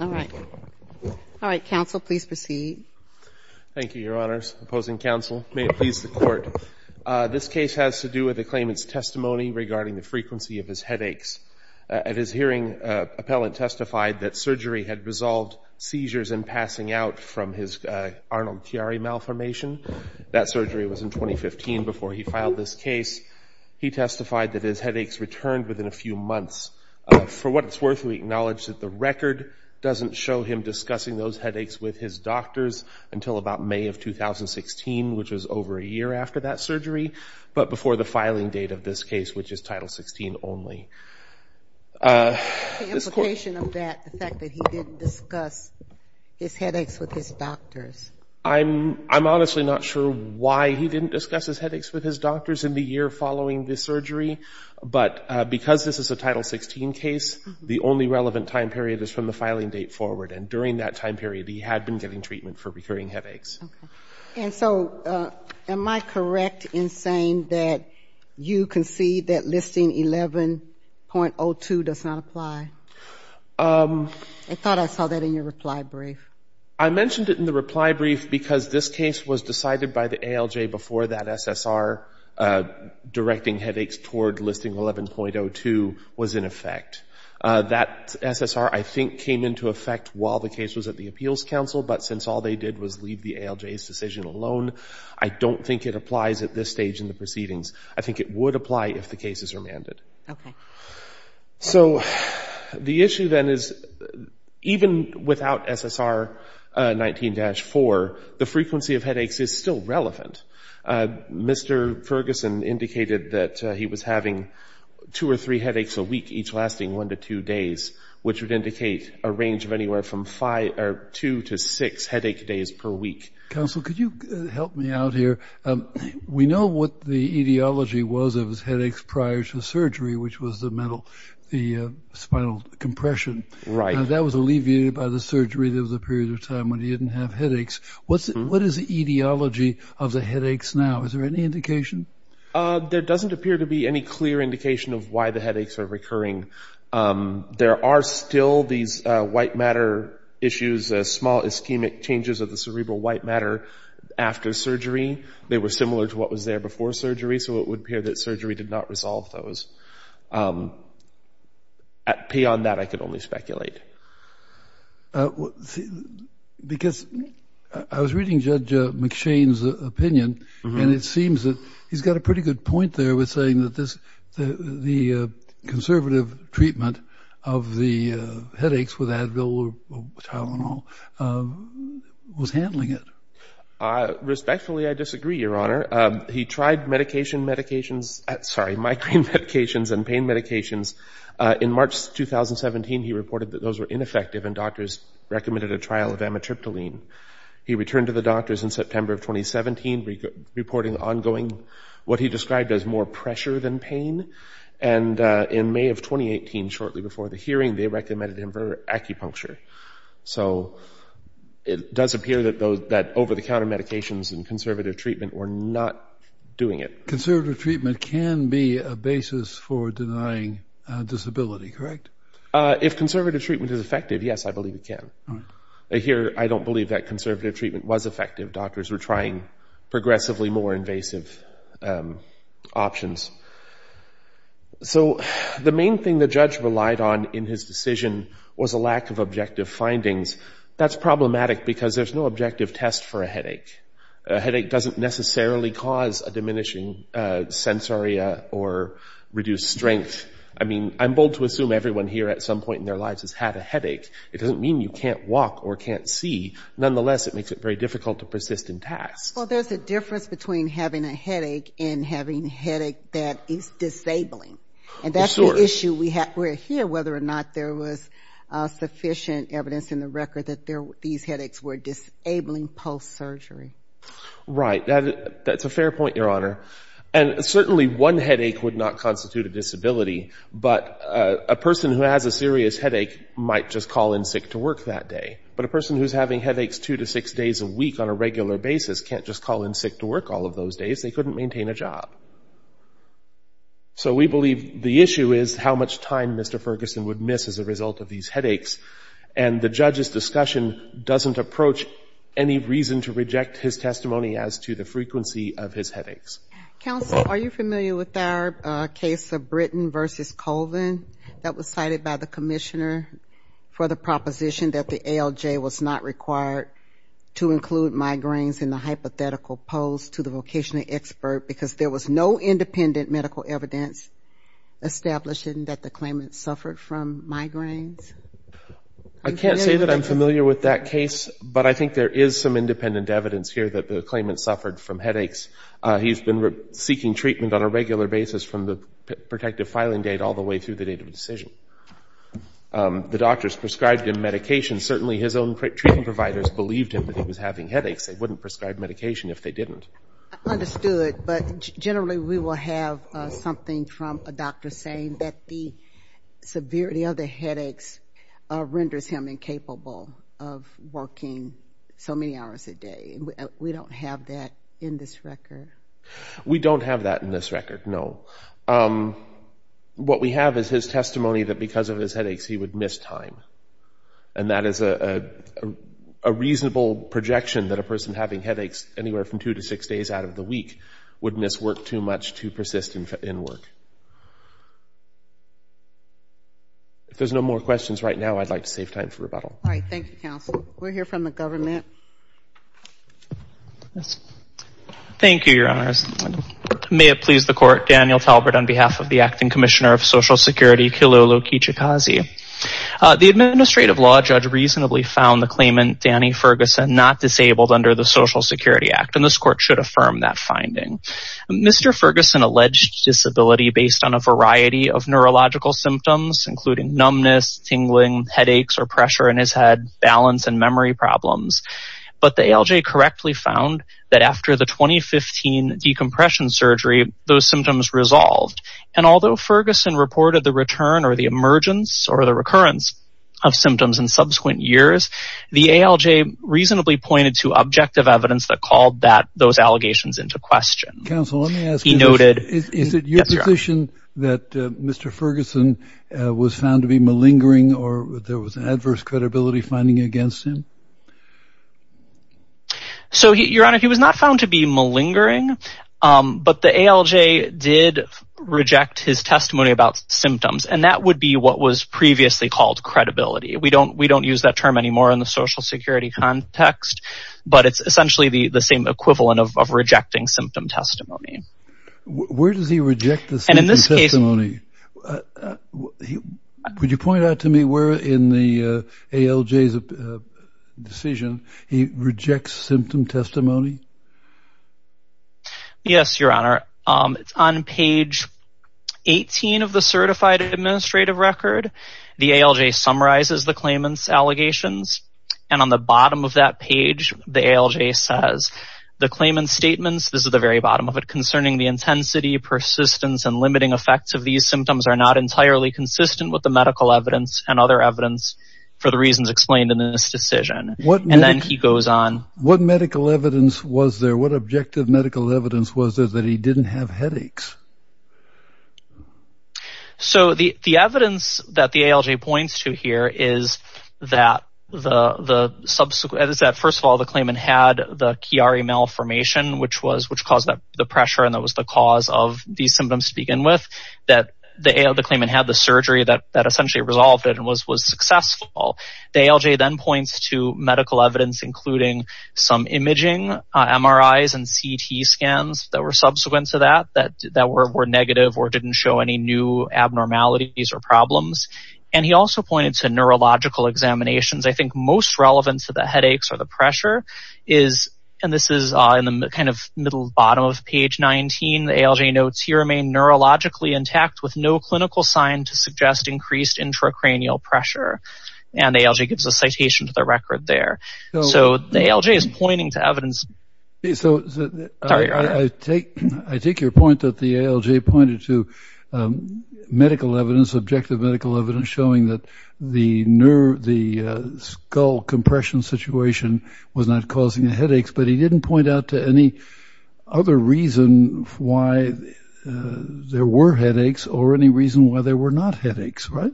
All right. All right, counsel, please proceed. Thank you, Your Honors. Opposing counsel, may it please the Court. This case has to do with the claimant's testimony regarding the frequency of his headaches. At his hearing, an appellant testified that surgery had resolved seizures and passing out from his Arnold Tiare malformation. That surgery was in 2015. Before he filed this case, he testified that his headaches returned within a few months. For what it's worth, we acknowledge that the record doesn't show him discussing those headaches with his doctors until about May of 2016, which was over a year after that surgery, but before the filing date of this case, which is Title 16 only. What's the implication of that, the fact that he didn't discuss his headaches with his doctors? I'm honestly not sure why he didn't discuss his headaches with his doctors in the year following the surgery, but because this is a Title 16 case, the only relevant time period is from the filing date forward, and during that time period he had been getting treatment for recurring headaches. Okay. And so am I correct in saying that you concede that Listing 11.02 does not apply? I thought I saw that in your reply brief. I mentioned it in the reply brief because this case was decided by the ALJ before that SSR directing headaches toward Listing 11.02 was in effect. That SSR, I think, came into effect while the case was at the Appeals Council, but since all they did was leave the ALJ's decision alone, I don't think it applies at this stage in the proceedings. I think it would apply if the cases were mandated. Okay. So the issue then is even without SSR 19-4, the frequency of headaches is still relevant. Mr. Ferguson indicated that he was having two or three headaches a week, each lasting one to two days, which would indicate a range of anywhere from two to six headache days per week. Counsel, could you help me out here? We know what the etiology was of his headaches prior to surgery, which was the spinal compression. Right. That was alleviated by the surgery. There was a period of time when he didn't have headaches. What is the etiology of the headaches now? Is there any indication? There doesn't appear to be any clear indication of why the headaches are recurring. There are still these white matter issues, small ischemic changes of the cerebral white matter after surgery. They were similar to what was there before surgery, so it would appear that surgery did not resolve those. Beyond that, I could only speculate. Because I was reading Judge McShane's opinion, and it seems that he's got a pretty good point there with saying that the conservative treatment of the headaches, with Advil or Tylenol, was handling it. Respectfully, I disagree, Your Honor. He tried medication medications, sorry, migraine medications and pain medications. In March 2017, he reported that those were ineffective, and doctors recommended a trial of amitriptyline. He returned to the doctors in September of 2017, reporting ongoing what he described as more pressure than pain. And in May of 2018, shortly before the hearing, they recommended him for acupuncture. So it does appear that over-the-counter medications and conservative treatment were not doing it. Conservative treatment can be a basis for denying disability, correct? If conservative treatment is effective, yes, I believe it can. Here, I don't believe that conservative treatment was effective. Doctors were trying progressively more invasive options. So the main thing the judge relied on in his decision was a lack of objective findings. That's problematic because there's no objective test for a headache. A headache doesn't necessarily cause a diminishing sensoria or reduced strength. I mean, I'm bold to assume everyone here at some point in their lives has had a headache. It doesn't mean you can't walk or can't see. Nonetheless, it makes it very difficult to persist in tasks. Well, there's a difference between having a headache and having a headache that is disabling. And that's the issue we're here whether or not there was sufficient evidence in the record that these headaches were disabling post-surgery. Right. That's a fair point, Your Honor. And certainly one headache would not constitute a disability. But a person who has a serious headache might just call in sick to work that day. But a person who's having headaches two to six days a week on a regular basis can't just call in sick to work all of those days. They couldn't maintain a job. So we believe the issue is how much time Mr. Ferguson would miss as a result of these headaches. And the judge's discussion doesn't approach any reason to reject his testimony as to the frequency of his headaches. Counsel, are you familiar with our case of Britton v. Colvin that was cited by the commissioner for the proposition that the ALJ was not required to include migraines in the hypothetical post to the vocational expert because there was no independent medical evidence establishing that the claimant suffered from migraines? I can't say that I'm familiar with that case, but I think there is some independent evidence here that the claimant suffered from headaches. He's been seeking treatment on a regular basis from the protective filing date all the way through the date of decision. The doctors prescribed him medication. Certainly his own treatment providers believed him that he was having headaches. They wouldn't prescribe medication if they didn't. Understood, but generally we will have something from a doctor saying that the severity of the headaches renders him incapable of working so many hours a day. We don't have that in this record. We don't have that in this record, no. What we have is his testimony that because of his headaches he would miss time. If he was having headaches anywhere from two to six days out of the week, wouldn't this work too much to persist in work? If there's no more questions right now, I'd like to save time for rebuttal. Thank you, Your Honors. May it please the Court, Daniel Talbert on behalf of the Acting Commissioner of Social Security, Kilolo Kichikazi. The Administrative Law Judge reasonably found the claimant, Danny Ferguson, not disabled under the Social Security Act. This Court should affirm that finding. Mr. Ferguson alleged disability based on a variety of neurological symptoms including numbness, tingling, headaches or pressure in his head, balance and memory problems. But the ALJ correctly found that after the 2015 decompression surgery, those symptoms resolved. And although Ferguson reported the return or the emergence or the recurrence of symptoms in subsequent years, the ALJ reasonably pointed to objective evidence that called those allegations into question. Is it your position that Mr. Ferguson was found to be malingering or there was adverse credibility finding against him? Your Honor, he was not found to be malingering. But the ALJ did reject his testimony about symptoms and that would be what was previously called credibility. We don't use that term anymore in the Social Security context, but it's essentially the same equivalent of rejecting symptom testimony. Where does he reject the symptom testimony? Would you point out to me where in the ALJ's decision he rejects symptom testimony? Yes, Your Honor. On page 18 of the Certified Administrative Record, the ALJ summarizes the claimant's allegations. And on the bottom of that page, the ALJ says, The claimant's statements concerning the intensity, persistence and limiting effects of these symptoms are not entirely consistent with the medical evidence and other evidence for the reasons explained in this decision. What medical evidence was there? What objective medical evidence was there that he didn't have headaches? So the evidence that the ALJ points to here is that first of all, the claimant had the Chiari malformation, which caused the pressure and that was the cause of these symptoms to begin with. The claimant had the surgery that essentially resolved it and was successful. The ALJ then points to medical evidence, including some imaging, MRIs and CT scans that were subsequent to that, that were negative or didn't show any new abnormalities or problems. And he also pointed to neurological examinations. I think most relevant to the headaches or the pressure is, and this is in the kind of middle bottom of page 19, the ALJ notes, He remained neurologically intact with no clinical sign to suggest increased intracranial pressure. And ALJ gives a citation to the record there. So the ALJ is pointing to evidence. I take your point that the ALJ pointed to medical evidence, objective medical evidence showing that the skull compression situation was not causing the headaches, but he didn't point out to any other reason why there were headaches or any reason why there were not headaches, right?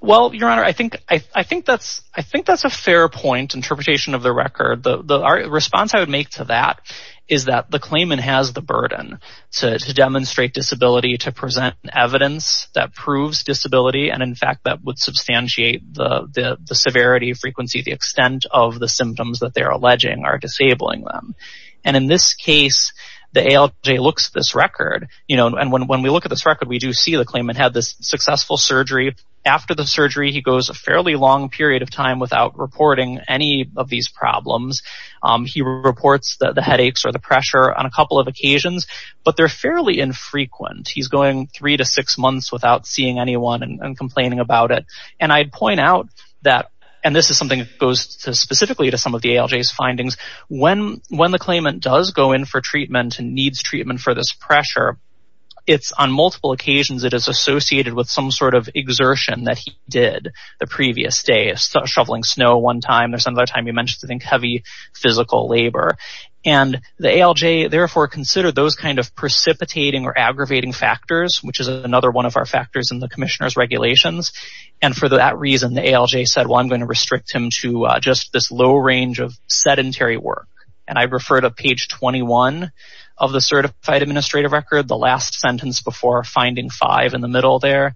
Well, your honor, I think that's a fair point interpretation of the record. The response I would make to that is that the claimant has the burden to demonstrate disability, to present evidence that proves disability. And in fact, that would substantiate the severity of frequency, the extent of the symptoms that they're alleging are disabling them. And in this case, the ALJ looks at this record and when we look at this record, we do see the claimant had this successful surgery. After the surgery, he goes a fairly long period of time without reporting any of these problems. He reports the headaches or the pressure on a couple of occasions, but they're fairly infrequent. He's going three to six months without seeing anyone and complaining about it. And I'd point out that, and this is something that goes specifically to some of the ALJ's findings, when the claimant does go in for treatment and needs treatment for this pressure, it's on multiple occasions it is associated with some sort of exertion that he did the previous day. Shoveling snow one time, there's another time you mentioned, I think, heavy physical labor. And the ALJ, therefore, considered those kind of precipitating or aggravating factors, which is another one of our factors in the commissioner's regulations. And for that reason, the ALJ said, well, I'm going to restrict him to just this low range of sedentary work. And I refer to page 21 of the certified administrative record, the last sentence before finding five in the middle there,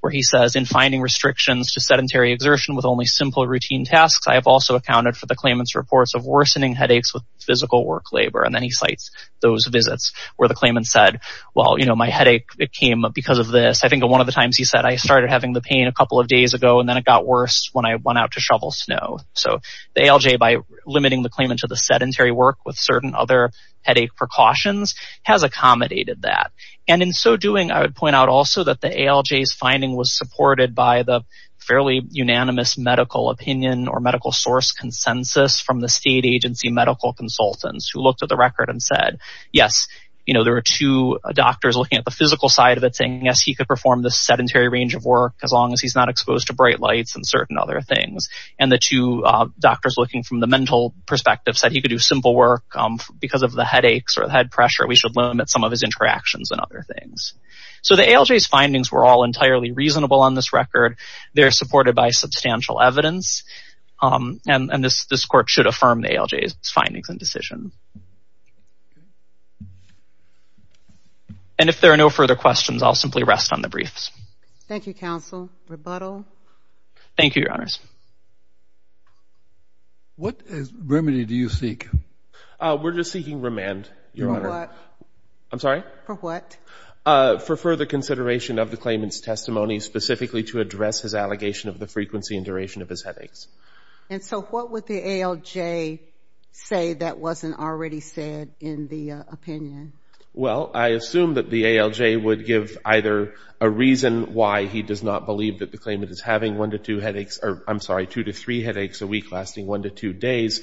where he says, in finding restrictions to sedentary exertion with only simple routine tasks, I have also accounted for the claimant's reports of worsening headaches with physical work labor. And then he cites those visits where the claimant said, well, you know, my headache came up because of this. I think one of the times he said, I started having the pain a couple of days ago, and then it got worse when I went out to shovel snow. So the ALJ, by limiting the claimant to the sedentary work with certain other headache precautions, has accommodated that. And in so doing, I would point out also that the ALJ's finding was supported by the fairly unanimous medical opinion or medical source consensus from the state agency medical consultants who looked at the record and said, yes, you know, there were two doctors looking at the physical side of it saying, yes, he could perform the sedentary range of work as long as he's not exposed to bright lights and certain other things. And the two doctors looking from the mental perspective said he could do simple work. Because of the headaches or the head pressure, we should limit some of his interactions and other things. So the ALJ's findings were all entirely reasonable on this record. They're supported by substantial evidence. And this court should affirm the ALJ's findings and decision. And if there are no further questions, I'll simply rest on the briefs. Thank you, counsel. Rebuttal? Thank you, Your Honors. What remedy do you seek? We're just seeking remand, Your Honor. For what? I'm sorry? For what? For further consideration of the claimant's testimony, specifically to address his allegation of the frequency and duration of his headaches. And so what would the ALJ say that wasn't already said in the opinion? Well, I assume that the ALJ would give either a reason why he does not believe that the claimant is having one to two headaches or, I'm sorry, two to three headaches a week lasting one to two days,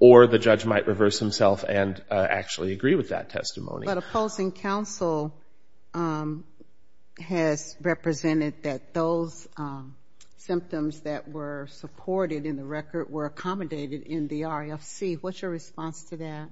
or the judge might reverse himself and actually agree with that testimony. But opposing counsel has represented that those symptoms that were supported in the record were accommodated in the RFC. What's your response to that?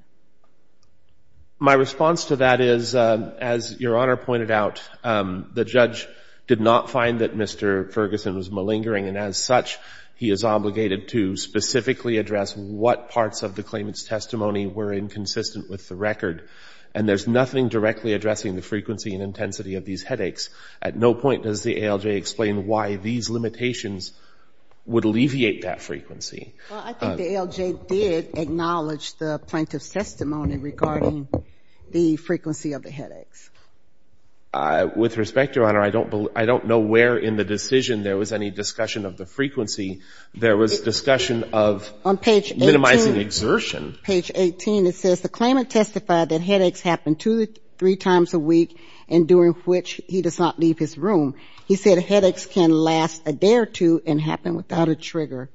My response to that is, as Your Honor pointed out, the judge did not find that Mr. Ferguson was malingering, and as such he is obligated to specifically address what parts of the claimant's testimony were inconsistent with the record. And there's nothing directly addressing the frequency and intensity of these headaches. At no point does the ALJ explain why these limitations would alleviate that frequency. Well, I think the ALJ did acknowledge the plaintiff's testimony regarding the frequency of the headaches. With respect, Your Honor, I don't know where in the decision there was any discussion of the frequency. There was discussion of minimizing exertion. Page 18, it says the claimant testified that headaches happened two to three times a week, and during which he does not leave his room. He said headaches can last a day or two and happen without a trigger.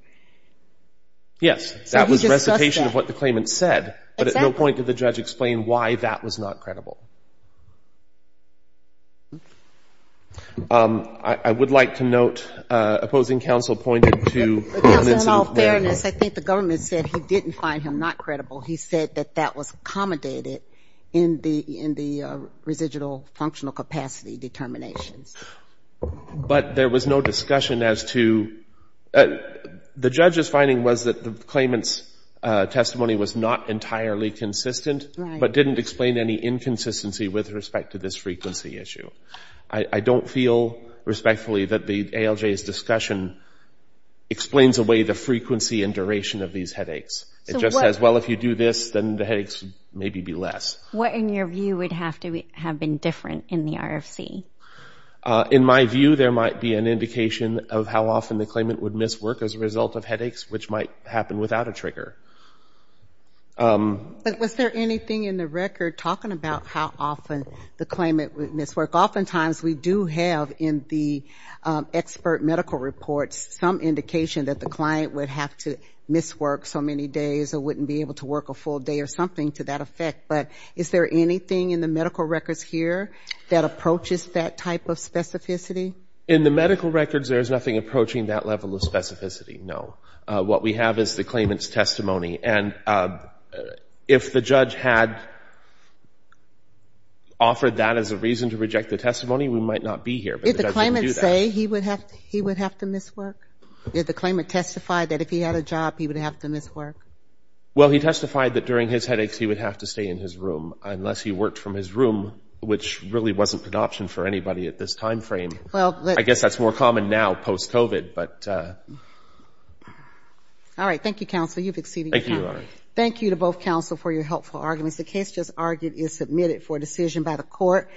Yes, that was recitation of what the claimant said. But at no point did the judge explain why that was not credible. I would like to note opposing counsel pointed to evidence of malingering. Yes, I think the government said he didn't find him not credible. He said that that was accommodated in the residual functional capacity determinations. But there was no discussion as to the judge's finding was that the claimant's testimony was not entirely consistent, but didn't explain any inconsistency with respect to this frequency issue. I don't feel respectfully that the ALJ's discussion explains away the frequency and duration of these headaches. It just says, well, if you do this, then the headaches maybe be less. What, in your view, would have to have been different in the RFC? In my view, there might be an indication of how often the claimant would miswork as a result of headaches, which might happen without a trigger. But was there anything in the record talking about how often the claimant would miswork? Oftentimes we do have in the expert medical reports some indication that the client would have to miswork so many days or wouldn't be able to work a full day or something to that effect. But is there anything in the medical records here that approaches that type of specificity? In the medical records, there is nothing approaching that level of specificity, no. What we have is the claimant's testimony, and if the judge had offered that as a reason to reject the testimony, we might not be here, but the judge wouldn't do that. Did the claimant say he would have to miswork? Did the claimant testify that if he had a job, he would have to miswork? Well, he testified that during his headaches, he would have to stay in his room, unless he worked from his room, which really wasn't an option for anybody at this time frame. I guess that's more common now, post-COVID. All right. Thank you, counsel. You've exceeded your time. Thank you, Your Honor. Thank you to both counsel for your helpful arguments. The case just argued is submitted for decision by the court.